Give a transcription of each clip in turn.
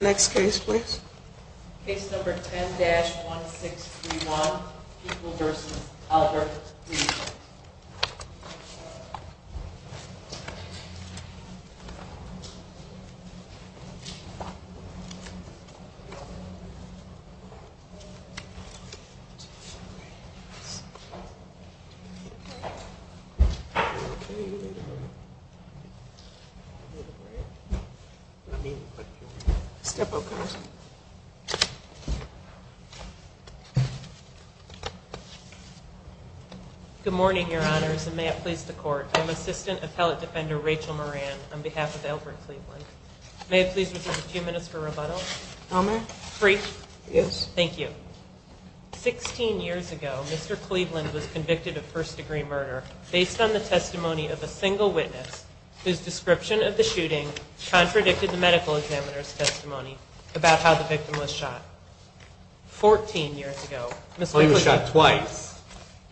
Next case please. Case number 10-1631, People v. Albert, Cleveland. Good morning, Your Honors, and may it please the Court, I am Assistant Appellate Defender Rachel Moran on behalf of Albert Cleveland. May it please the Chief Minister for rebuttal? Yes. Thank you. Sixteen years ago, Mr. Cleveland was convicted of first-degree murder based on the testimony of a single witness whose description of the shooting contradicted the medical examiner's testimony about how the victim was shot. Fourteen years ago, Mr. Cleveland was shot twice,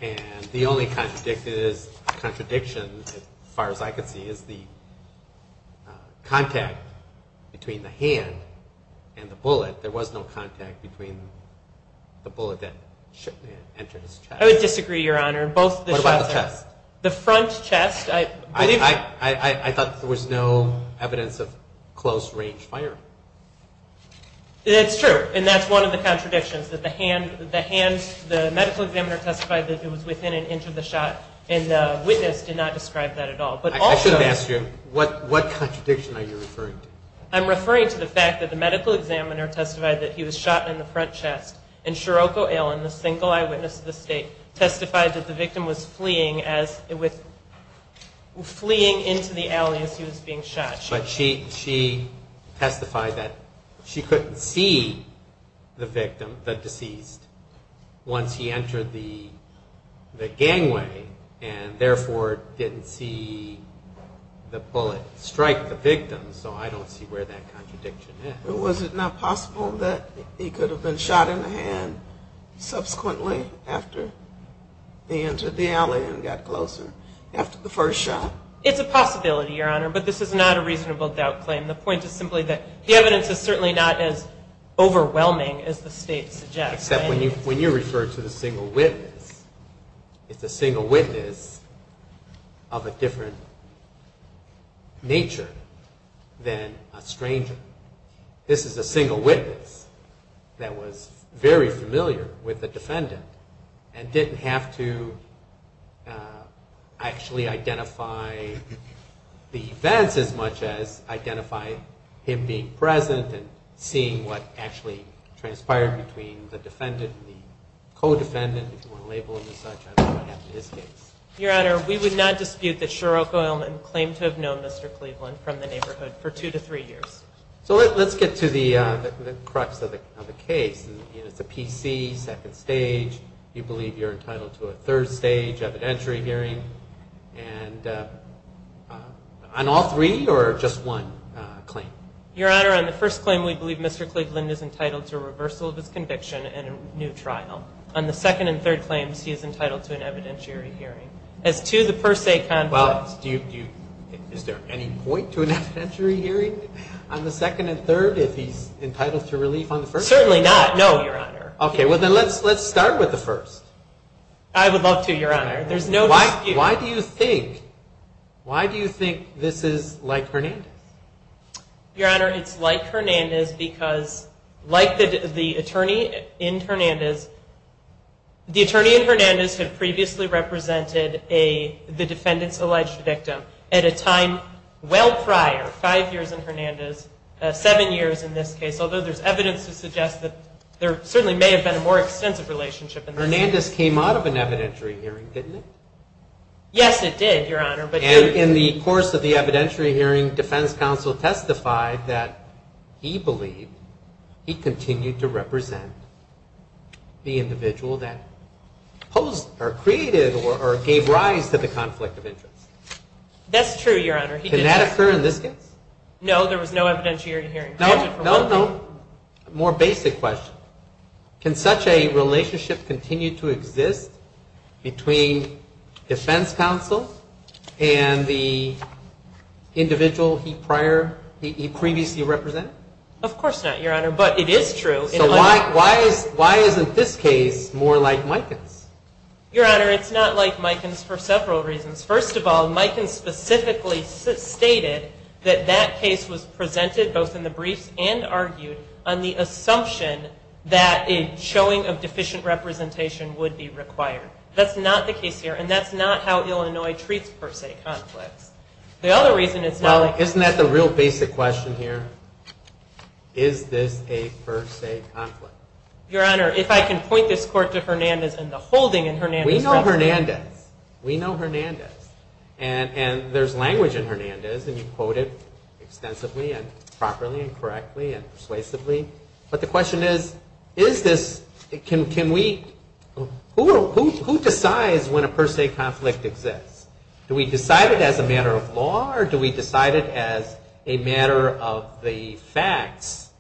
and the only contradiction, as far as I can see, is the contact between the hand and the wound. I would disagree, Your Honor. What about the chest? The front chest. I thought there was no evidence of close-range firing. That's true, and that's one of the contradictions, that the medical examiner testified that it was within an inch of the shot, and the witness did not describe that at all. I should have asked you, what contradiction are you referring to? I'm referring to the fact that the medical examiner testified that he was shot in the front chest, and Shiroko Allen, the single eyewitness of the state, testified that the victim was fleeing into the alley as he was being shot. But she testified that she couldn't see the victim, the deceased, once he entered the gangway, and therefore didn't see the bullet strike the victim, so I don't see where that contradiction is. Was it not possible that he could have been shot in the hand subsequently after he entered the alley and got closer, after the first shot? It's a possibility, Your Honor, but this is not a reasonable doubt claim. The point is simply that the evidence is certainly not as overwhelming as the state suggests. Except when you refer to the single witness, it's a single witness of a different nature than a stranger. This is a single witness that was very familiar with the defendant and didn't have to actually identify the events as much as identify him being present and seeing what actually transpired between the defendants. Your Honor, we would not dispute that Shiroko Allen claimed to have known Mr. Cleveland from the neighborhood for two to three years. So let's get to the crux of the case. It's a PC, second stage, you believe you're entitled to a third stage evidentiary hearing, and on all three or just one claim? Your Honor, on the first claim, we believe Mr. Cleveland is entitled to a reversal of his conviction and a new trial. On the second and third claims, he is entitled to an evidentiary hearing. As to the per se conflict... Well, is there any point to an evidentiary hearing on the second and third if he's entitled to relief on the first? Certainly not, no, Your Honor. Okay, well then let's start with the first. I would love to, Your Honor. There's no dispute. Why do you think this is like Hernandez? Your Honor, it's like Hernandez because like the attorney in Hernandez, the attorney in Hernandez had previously represented the defendant's alleged victim at a time well prior, five years in Hernandez, seven years in this case, although there's evidence to suggest that there certainly may have been a more extensive relationship in this case. Hernandez came out of an evidentiary hearing, didn't it? Yes, it did, Your Honor. And in the course of the evidentiary hearing, defense counsel testified that he believed he continued to represent the individual that posed or created or gave rise to the conflict of interest. That's true, Your Honor. Can that occur in this case? No, there was no evidentiary hearing. More basic question. Can such a relationship continue to exist between defense counsel and the individual he previously represented? Of course not, Your Honor, but it is true. So why isn't this case more like Mikan's? Your Honor, it's not like Mikan's for several reasons. First of all, Mikan specifically stated that that case was presented both in the briefs and argued on the assumption that a showing of deficient representation would be required. That's not the case here, and that's not how Illinois treats per se conflicts. The other reason it's not like... Isn't that the real basic question here? Is this a per se conflict? Your Honor, if I can point this court to Hernandez and the holding in Hernandez... We know Hernandez. We know Hernandez. And there's language in Hernandez, and you quote it extensively and properly and correctly and persuasively. But the question is, is this... Can we... Who decides when a per se conflict exists? Do we decide it as a matter of law or do we decide it as a matter of the facts?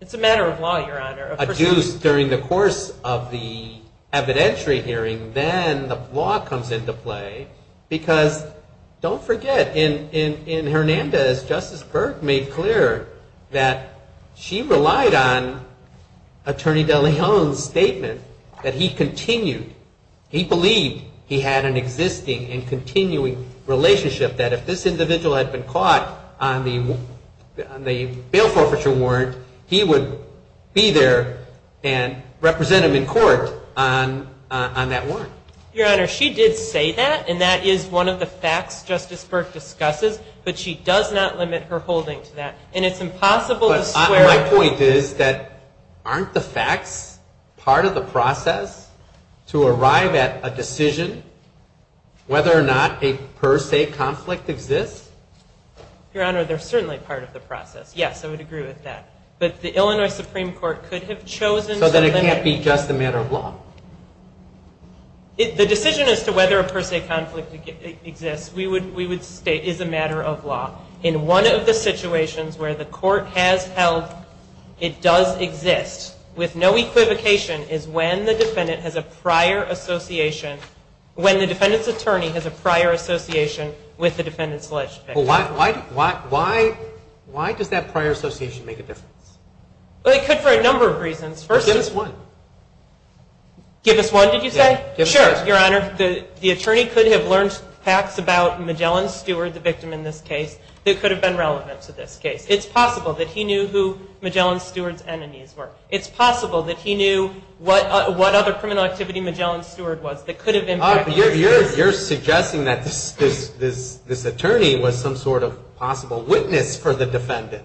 It's a matter of law, Your Honor. If there's a deuce during the course of the evidentiary hearing, then the law comes into play. Because don't forget, in Hernandez, Justice Berg made clear that she relied on Attorney De Leon's statement that he continued. He believed he had an existing and continuing relationship that if this individual had been caught on the bail forfeiture warrant, he would be there and represent him in court on that warrant. Your Honor, she did say that, and that is one of the facts Justice Berg discusses. But she does not limit her holding to that. And it's impossible to square... So my point is that aren't the facts part of the process to arrive at a decision whether or not a per se conflict exists? Your Honor, they're certainly part of the process. Yes, I would agree with that. But the Illinois Supreme Court could have chosen to limit... So then it can't be just a matter of law? The decision as to whether a per se conflict exists is a matter of law. In one of the situations where the court has held it does exist, with no equivocation, is when the defendant has a prior association... When the defendant's attorney has a prior association with the defendant's alleged victim. Why does that prior association make a difference? Well, it could for a number of reasons. Give us one. Give us one, did you say? Sure, Your Honor. Your Honor, the attorney could have learned facts about Magellan's steward, the victim in this case, that could have been relevant to this case. It's possible that he knew who Magellan's steward's enemies were. It's possible that he knew what other criminal activity Magellan's steward was that could have... You're suggesting that this attorney was some sort of possible witness for the defendant.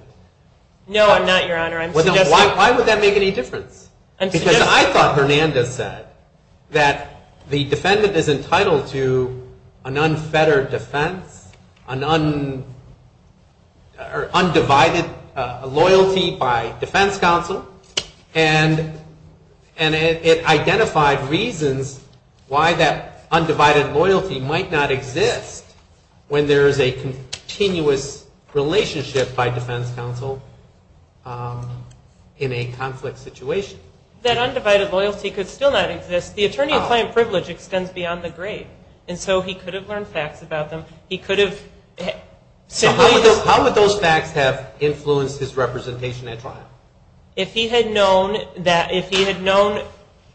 No, I'm not, Your Honor. Why would that make any difference? Because I thought Hernandez said that the defendant is entitled to an unfettered defense, an undivided loyalty by defense counsel, and it identified reasons why that undivided loyalty might not exist when there is a continuous relationship by defense counsel in a conflict situation. That undivided loyalty could still not exist. The attorney-of-client privilege extends beyond the grave, and so he could have learned facts about them. He could have simply... If he had known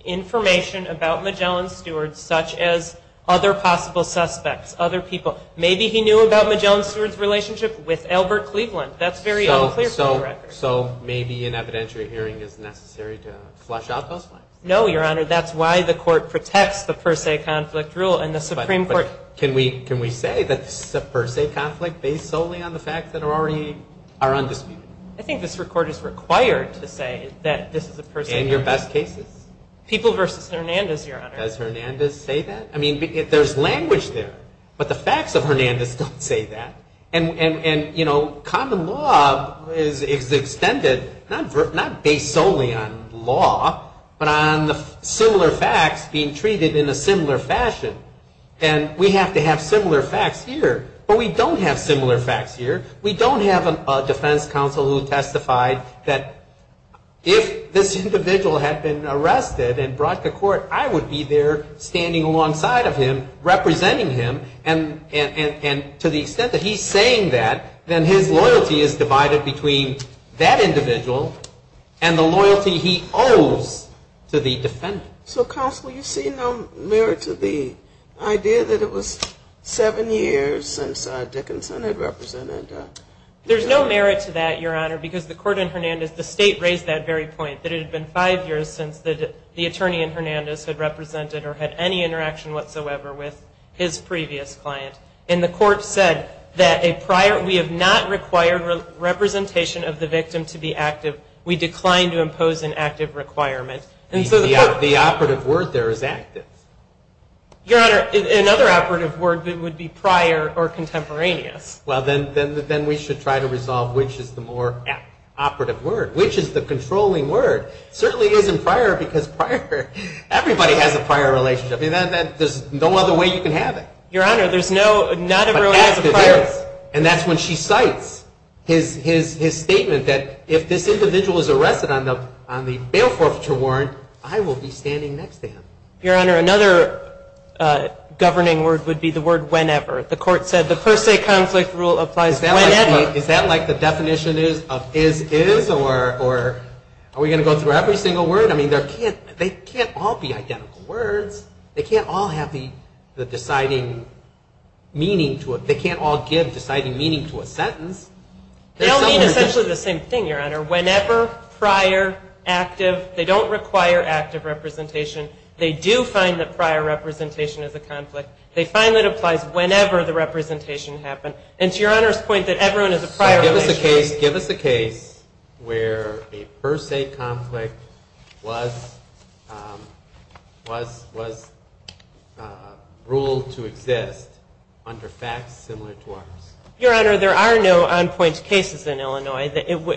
information about Magellan's steward, such as other possible suspects, other people, maybe he knew about Magellan's steward's relationship with Albert Cleveland. That's very unclear from the record. So maybe an evidentiary hearing is necessary to flush out those facts. No, Your Honor. That's why the court protects the per se conflict rule in the Supreme Court. But can we say that this is a per se conflict based solely on the facts that are already undisputed? I think this court is required to say that this is a per se conflict. In your best cases? People versus Hernandez, Your Honor. Does Hernandez say that? I mean, there's language there, but the facts of Hernandez don't say that. And, you know, common law is extended not based solely on law, but on the similar facts being treated in a similar fashion, and we have to have similar facts here. But we don't have similar facts here. We don't have a defense counsel who testified that if this individual had been arrested and brought to court, I would be there standing alongside of him, representing him, and to the extent that he's saying that, then his loyalty is divided between that individual and the loyalty he owes to the defendant. So, counsel, you see no merit to the idea that it was seven years since Dickinson had represented? There's no merit to that, Your Honor, because the court in Hernandez, the state raised that very point, that it had been five years since the attorney in Hernandez had represented or had any interaction whatsoever with his previous client. And the court said that we have not required representation of the victim to be active. We declined to impose an active requirement. The operative word there is active. Your Honor, another operative word would be prior or contemporaneous. Well, then we should try to resolve which is the more operative word, which is the controlling word. It certainly isn't prior because everybody has a prior relationship. There's no other way you can have it. Your Honor, there's no other way. But active is, and that's when she cites his statement that if this individual is arrested on the bail forfeiture warrant, I will be standing next to him. Your Honor, another governing word would be the word whenever. The court said the per se conflict rule applies whenever. Is that like the definition of is, is, or are we going to go through every single word? I mean, they can't all be identical words. They can't all have the deciding meaning to it. They can't all give deciding meaning to a sentence. They all mean essentially the same thing, Your Honor. Whenever, prior, active, they don't require active representation. They do find that prior representation is a conflict. They find that it applies whenever the representation happened. And to Your Honor's point that everyone has a prior relationship. Give us a case where a per se conflict was ruled to exist under facts similar to ours. Your Honor, there are no on-point cases in Illinois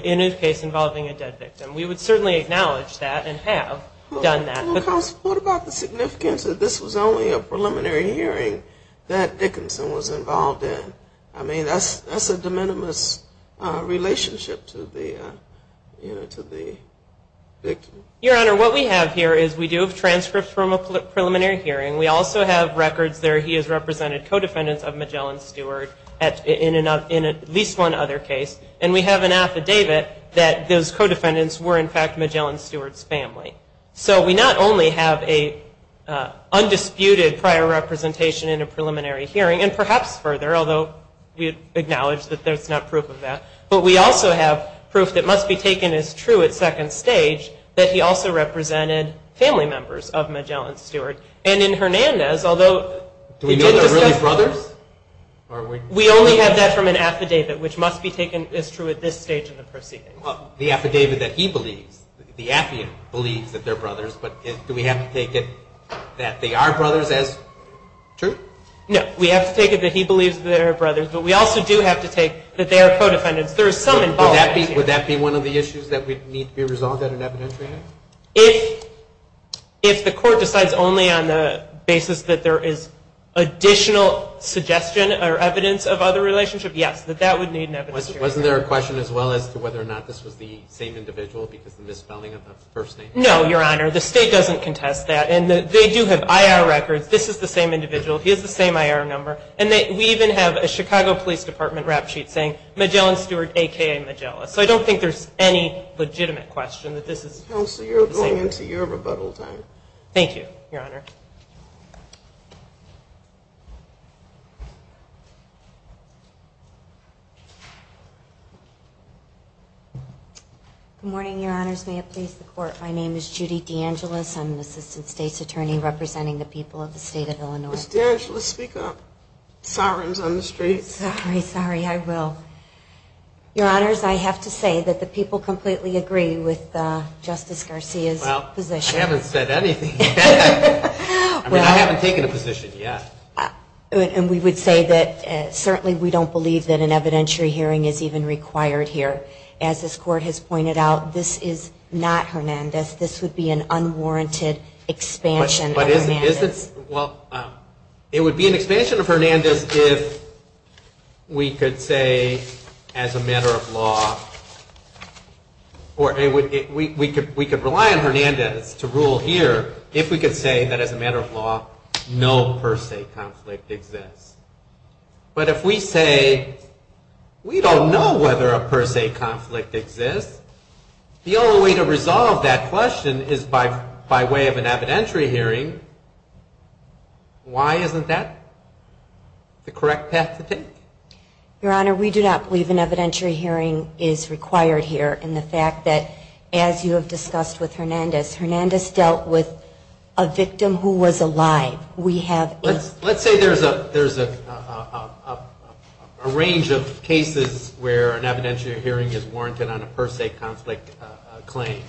in a case involving a dead victim. We would certainly acknowledge that and have done that. Counsel, what about the significance that this was only a preliminary hearing that Dickinson was involved in? I mean, that's a de minimis relationship to the victim. Your Honor, what we have here is we do have transcripts from a preliminary hearing. We also have records there he has represented co-defendants of Magellan Steward in at least one other case. And we have an affidavit that those co-defendants were, in fact, Magellan Steward's family. So we not only have an undisputed prior representation in a preliminary hearing, and perhaps further, although we acknowledge that there's not proof of that, but we also have proof that must be taken as true at second stage that he also represented family members of Magellan Steward. And in Hernandez, although he did discuss... Do we know they're really brothers? We only have that from an affidavit, which must be taken as true at this stage in the proceedings. The affidavit that he believes, the affiant believes that they're brothers, but do we have to take it that they are brothers as true? No. We have to take it that he believes that they are brothers, but we also do have to take that they are co-defendants. There is some involvement here. Would that be one of the issues that would need to be resolved at an evidentiary hearing? If the court decides only on the basis that there is additional suggestion or evidence of other relationship, yes, that that would need an evidentiary hearing. Wasn't there a question as well as to whether or not this was the same individual because of the misspelling of the first name? No, Your Honor. The state doesn't contest that. And they do have IR records. This is the same individual. He has the same IR number. And we even have a Chicago Police Department rap sheet saying Magellan Steward, a.k.a. Magella. So I don't think there's any legitimate question that this is... Counsel, you're going into your rebuttal time. Thank you, Your Honor. Good morning, Your Honors. May it please the Court. My name is Judy DeAngelis. I'm an Assistant State's Attorney representing the people of the state of Illinois. Ms. DeAngelis, speak up. Sirens on the streets. Sorry, sorry. I will. Your Honors, I have to say that the people completely agree with Justice Garcia's position. Well, I haven't said anything yet. I mean, I haven't taken a position yet. And we would say that certainly we don't believe that an evidentiary hearing is even required here. As this Court has pointed out, this is not Hernandez. This would be an unwarranted expansion of Hernandez. Well, it would be an expansion of Hernandez if we could say, as a matter of law, or we could rely on Hernandez to rule here if we could say that, as a matter of law, no per se conflict exists. But if we say we don't know whether a per se conflict exists, the only way to resolve that question is by way of an evidentiary hearing. Why isn't that the correct path to take? Your Honor, we do not believe an evidentiary hearing is required here. And the fact that, as you have discussed with Hernandez, Hernandez dealt with a victim who was alive. Let's say there's a range of cases where an evidentiary hearing is warranted on a per se conflict claim.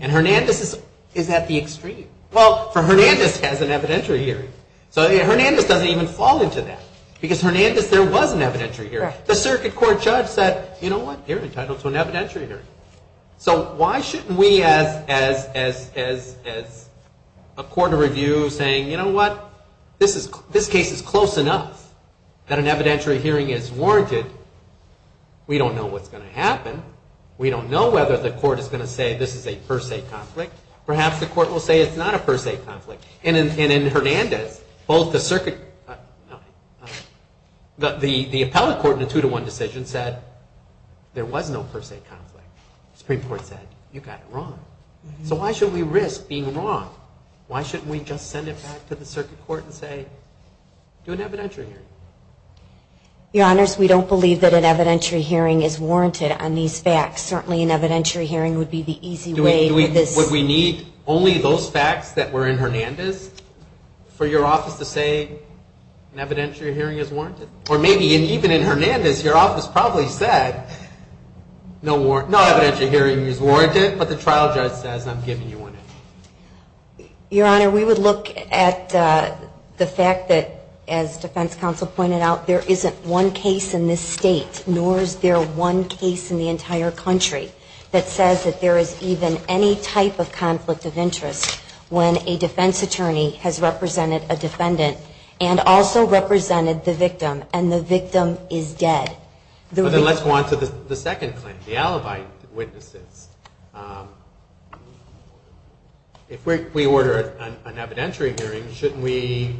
And Hernandez is at the extreme. Well, for Hernandez, it has an evidentiary hearing. So Hernandez doesn't even fall into that. Because Hernandez, there was an evidentiary hearing. The circuit court judge said, you know what, you're entitled to an evidentiary hearing. So why shouldn't we, as a court of review, say, you know what, this case is close enough that an evidentiary hearing is warranted. We don't know what's going to happen. We don't know whether the court is going to say this is a per se conflict. Perhaps the court will say it's not a per se conflict. And in Hernandez, both the circuit, the appellate court in a two to one decision said there was no per se conflict. The Supreme Court said, you got it wrong. So why should we risk being wrong? Why shouldn't we just send it back to the circuit court and say, do an evidentiary hearing? Your Honors, we don't believe that an evidentiary hearing is warranted on these facts. Certainly an evidentiary hearing would be the easy way. Would we need only those facts that were in Hernandez for your office to say an evidentiary hearing is warranted? Or maybe even in Hernandez, your office probably said no evidentiary hearing is warranted, but the trial judge says I'm giving you one. Your Honor, we would look at the fact that, as defense counsel pointed out, there isn't one case in this state, nor is there one case in the entire country that says that there is even any type of conflict of interest when a defense attorney has represented a defendant and also represented the victim, and the victim is dead. Then let's go on to the second claim, the alibi witnesses. If we order an evidentiary hearing, shouldn't we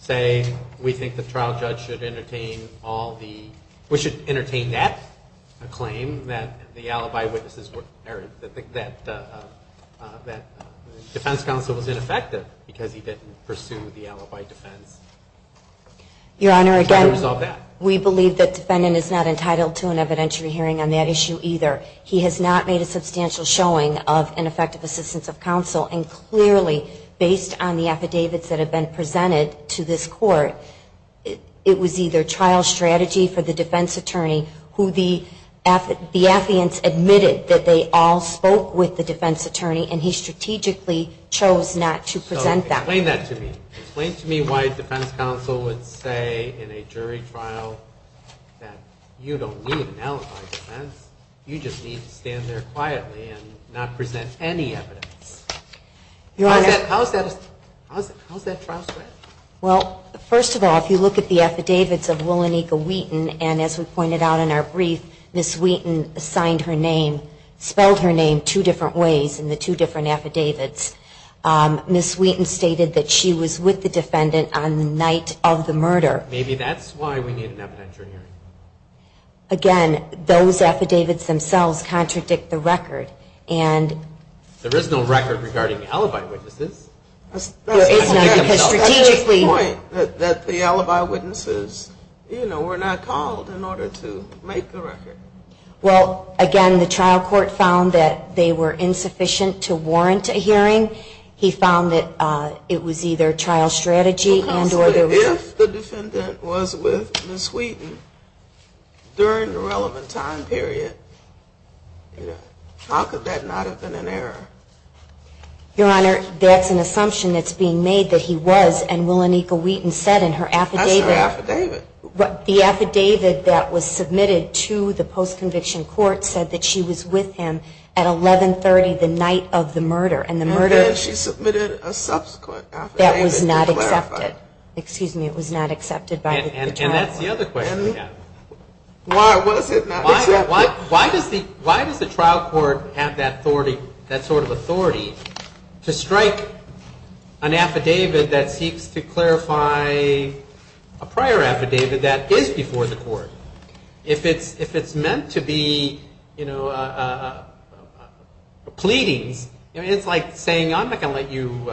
say we think the trial judge should entertain all the alibi witnesses? We should entertain that claim, that the defense counsel was ineffective because he didn't pursue the alibi defense. Your Honor, again, we believe that defendant is not entitled to an evidentiary hearing on that issue either. He has not made a substantial showing of ineffective assistance of counsel, and clearly, based on the affidavits that have been presented to this court, it was either trial strategy for the defense attorney, who the affidavits admitted that they all spoke with the defense attorney, and he strategically chose not to present that. Explain that to me. Explain to me why a defense counsel would say in a jury trial that you don't need an alibi defense. You just need to stand there quietly and not present any evidence. How is that trial strategy? Well, first of all, if you look at the affidavits of Willenica Wheaton, and as we pointed out in our brief, Ms. Wheaton signed her name, spelled her name two different ways in the two different affidavits. Ms. Wheaton stated that she was with the defendant on the night of the murder. Maybe that's why we need an evidentiary hearing. Again, those affidavits themselves contradict the record. There is no record regarding alibi witnesses. There is not. That's the point, that the alibi witnesses were not called in order to make the record. Well, again, the trial court found that they were insufficient to warrant a hearing. He found that it was either trial strategy. If the defendant was with Ms. Wheaton during the relevant time period, how could that not have been an error? Your Honor, that's an assumption that's being made that he was, and Willenica Wheaton said in her affidavit. That's her affidavit. The affidavit that was submitted to the post-conviction court said that she was with him at 1130 the night of the murder. And then she submitted a subsequent affidavit to clarify. That was not accepted. Excuse me, it was not accepted by the trial court. And that's the other question we have. Why was it not accepted? Why does the trial court have that sort of authority to strike an affidavit that seeks to clarify a prior affidavit that is before the court? If it's meant to be pleadings, it's like saying, I'm not going to let you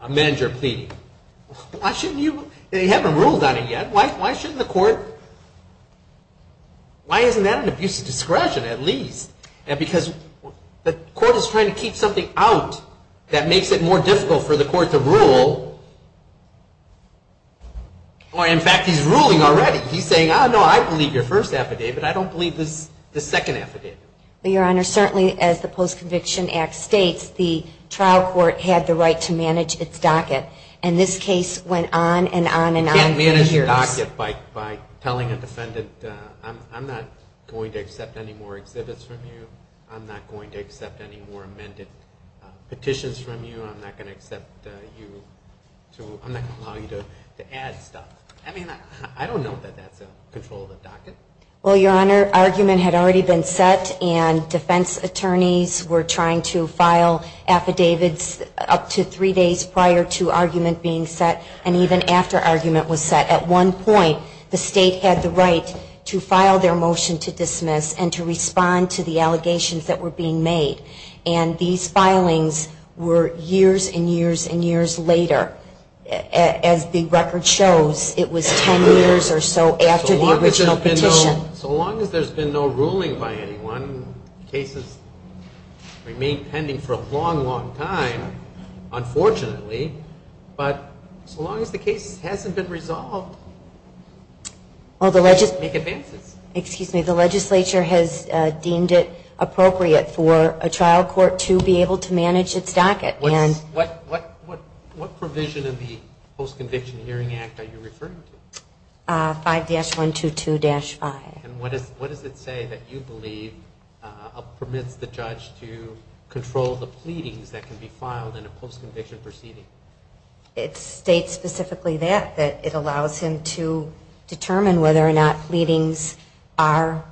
amend your pleading. Why shouldn't you? You haven't ruled on it yet. Why shouldn't the court? Why isn't that an abuse of discretion at least? Because the court is trying to keep something out that makes it more difficult for the court to rule. In fact, he's ruling already. He's saying, no, I believe your first affidavit. I don't believe the second affidavit. Your Honor, certainly as the Post-Conviction Act states, the trial court had the right to manage its docket. And this case went on and on and on for years. You can't manage a docket by telling a defendant, I'm not going to accept any more exhibits from you. I'm not going to accept any more amended petitions from you. I'm not going to allow you to add stuff. I mean, I don't know that that's a control of the docket. Well, Your Honor, argument had already been set, and defense attorneys were trying to file affidavits up to three days prior to argument being set, and even after argument was set. At one point, the state had the right to file their motion to dismiss and to respond to the allegations that were being made. And these filings were years and years and years later. As the record shows, it was ten years or so after the original petition. So long as there's been no ruling by anyone, cases remain pending for a long, long time, unfortunately. But so long as the case hasn't been resolved, we can make advances. Excuse me. The legislature has deemed it appropriate for a trial court to be able to manage its docket. What provision of the Post-Conviction Hearing Act are you referring to? 5-122-5. And what does it say that you believe permits the judge to control the pleadings that can be filed in a post-conviction proceeding? It states specifically that it allows him to determine whether or not pleadings are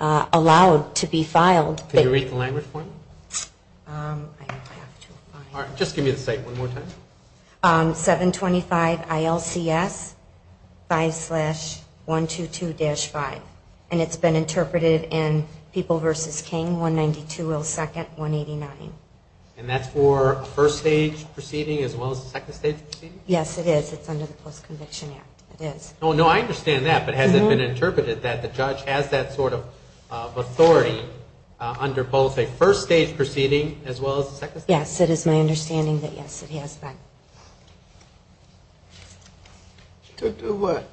allowed to be filed. Can you read the language for me? Just give me the state one more time. 725 ILCS 5-122-5. And it's been interpreted in People v. King, 192 Will 2nd, 189. And that's for a first-stage proceeding as well as a second-stage proceeding? Yes, it is. It's under the Post-Conviction Act. It is. Oh, no, I understand that. But has it been interpreted that the judge has that sort of authority under both a first-stage proceeding as well as a second-stage? Yes, it is my understanding that yes, it has been. To do what?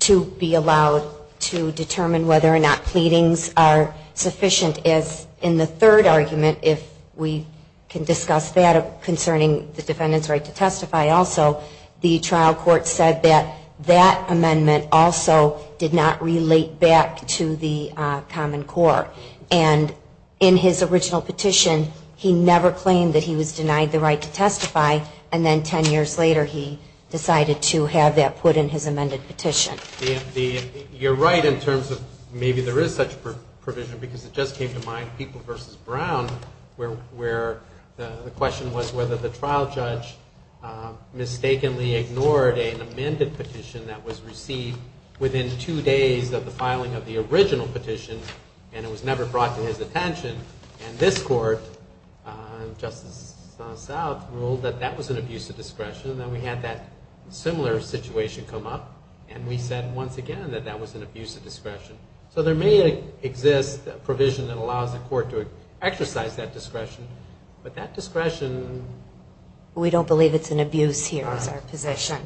To be allowed to determine whether or not pleadings are sufficient as in the third argument, if we can discuss that concerning the defendant's right to testify also, the trial court said that that amendment also did not relate back to the common core. And in his original petition, he never claimed that he was denied the right to testify, and then ten years later he decided to have that put in his amended petition. You're right in terms of maybe there is such a provision because it just came to mind, People v. Brown, where the question was whether the trial judge mistakenly ignored an amended petition that was received within two days of the filing of the original petition, and it was never brought to his attention. And this court, Justice South, ruled that that was an abuse of discretion, and then we had that similar situation come up, and we said once again that that was an abuse of discretion. So there may exist a provision that allows the court to exercise that discretion, but that discretion... We don't believe it's an abuse here is our position.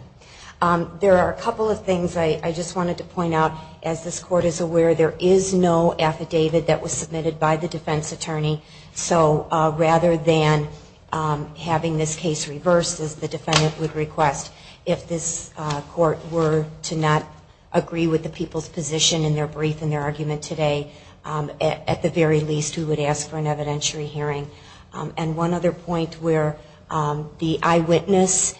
There are a couple of things I just wanted to point out. As this court is aware, there is no affidavit that was submitted by the defense attorney, so rather than having this case reversed, as the defendant would request, if this court were to not agree with the people's position in their brief and their argument today, at the very least we would ask for an evidentiary hearing. And one other point where the eyewitness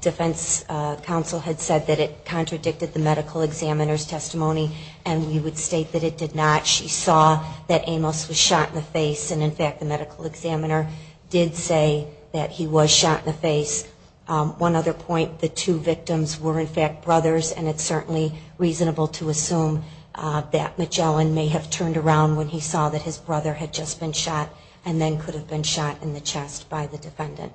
defense counsel had said that it contradicted the medical examiner's testimony, and we would state that it did not. She saw that Amos was shot in the face, and in fact the medical examiner did say that he was shot in the face. One other point, the two victims were in fact brothers, and it's certainly reasonable to assume that Magellan may have turned around when he saw that his brother had just been shot and then could have been shot in the chest by the defendant.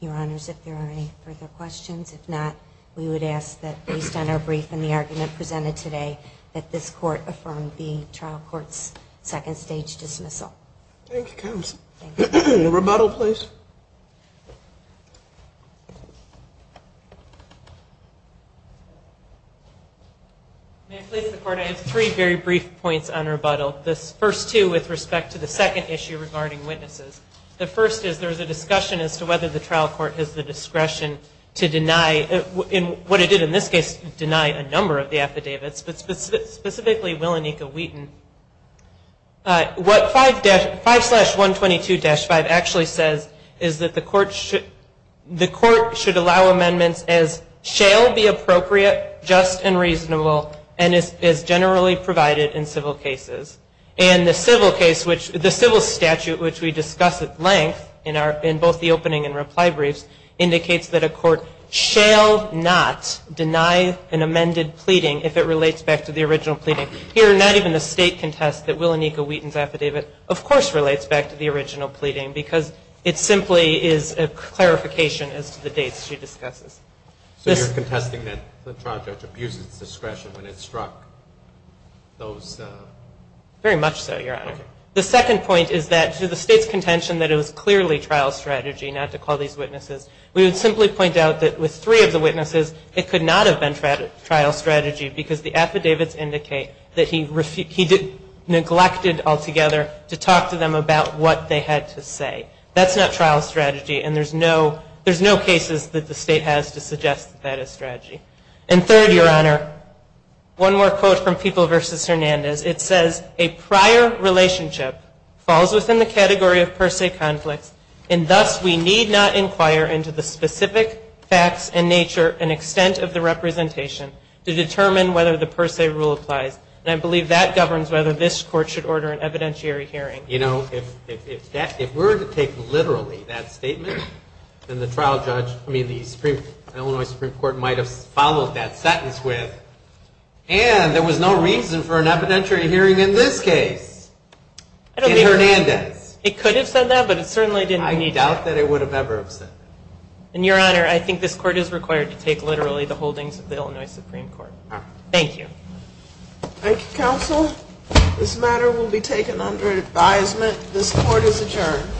Your Honors, if there are any further questions. If not, we would ask that based on our brief and the argument presented today, that this court affirm the trial court's second stage dismissal. Thank you, Counsel. Thank you. Rebuttal, please. May I please report, I have three very brief points on rebuttal. The first two with respect to the second issue regarding witnesses. The first is there is a discussion as to whether the trial court has the discretion to deny, what it did in this case, deny a number of the affidavits, but specifically Willenica Wheaton. What 5-122-5 actually says is that the court should allow amendments as shall be appropriate, just and reasonable, and as generally provided in civil cases. And the civil case, the civil statute, which we discuss at length in both the opening and reply briefs, indicates that a court shall not deny an amended pleading if it relates back to the original pleading. Here, not even the state contests that Willenica Wheaton's affidavit, of course, relates back to the original pleading because it simply is a clarification as to the dates she discusses. So you're contesting that the trial judge abuses discretion when it struck those? Very much so, Your Honor. Okay. The second point is that to the state's contention that it was clearly trial strategy not to call these witnesses. We would simply point out that with three of the witnesses, it could not have been trial strategy because the affidavits indicate that he neglected altogether to talk to them about what they had to say. That's not trial strategy, and there's no cases that the state has to suggest that that is strategy. And third, Your Honor, one more quote from People v. Hernandez. It says, a prior relationship falls within the category of per se conflicts, and thus we need not inquire into the specific facts and nature and extent of the representation to determine whether the per se rule applies. And I believe that governs whether this Court should order an evidentiary hearing. You know, if we're to take literally that statement, then the trial judge, I mean, the Illinois Supreme Court might have followed that sentence with, and there was no reason for an evidentiary hearing in this case in Hernandez. It could have said that, but it certainly didn't need to. I doubt that it would have ever said that. And, Your Honor, I think this Court is required to take literally the holdings of the Illinois Supreme Court. Thank you. Thank you, counsel. This matter will be taken under advisement. This court is adjourned.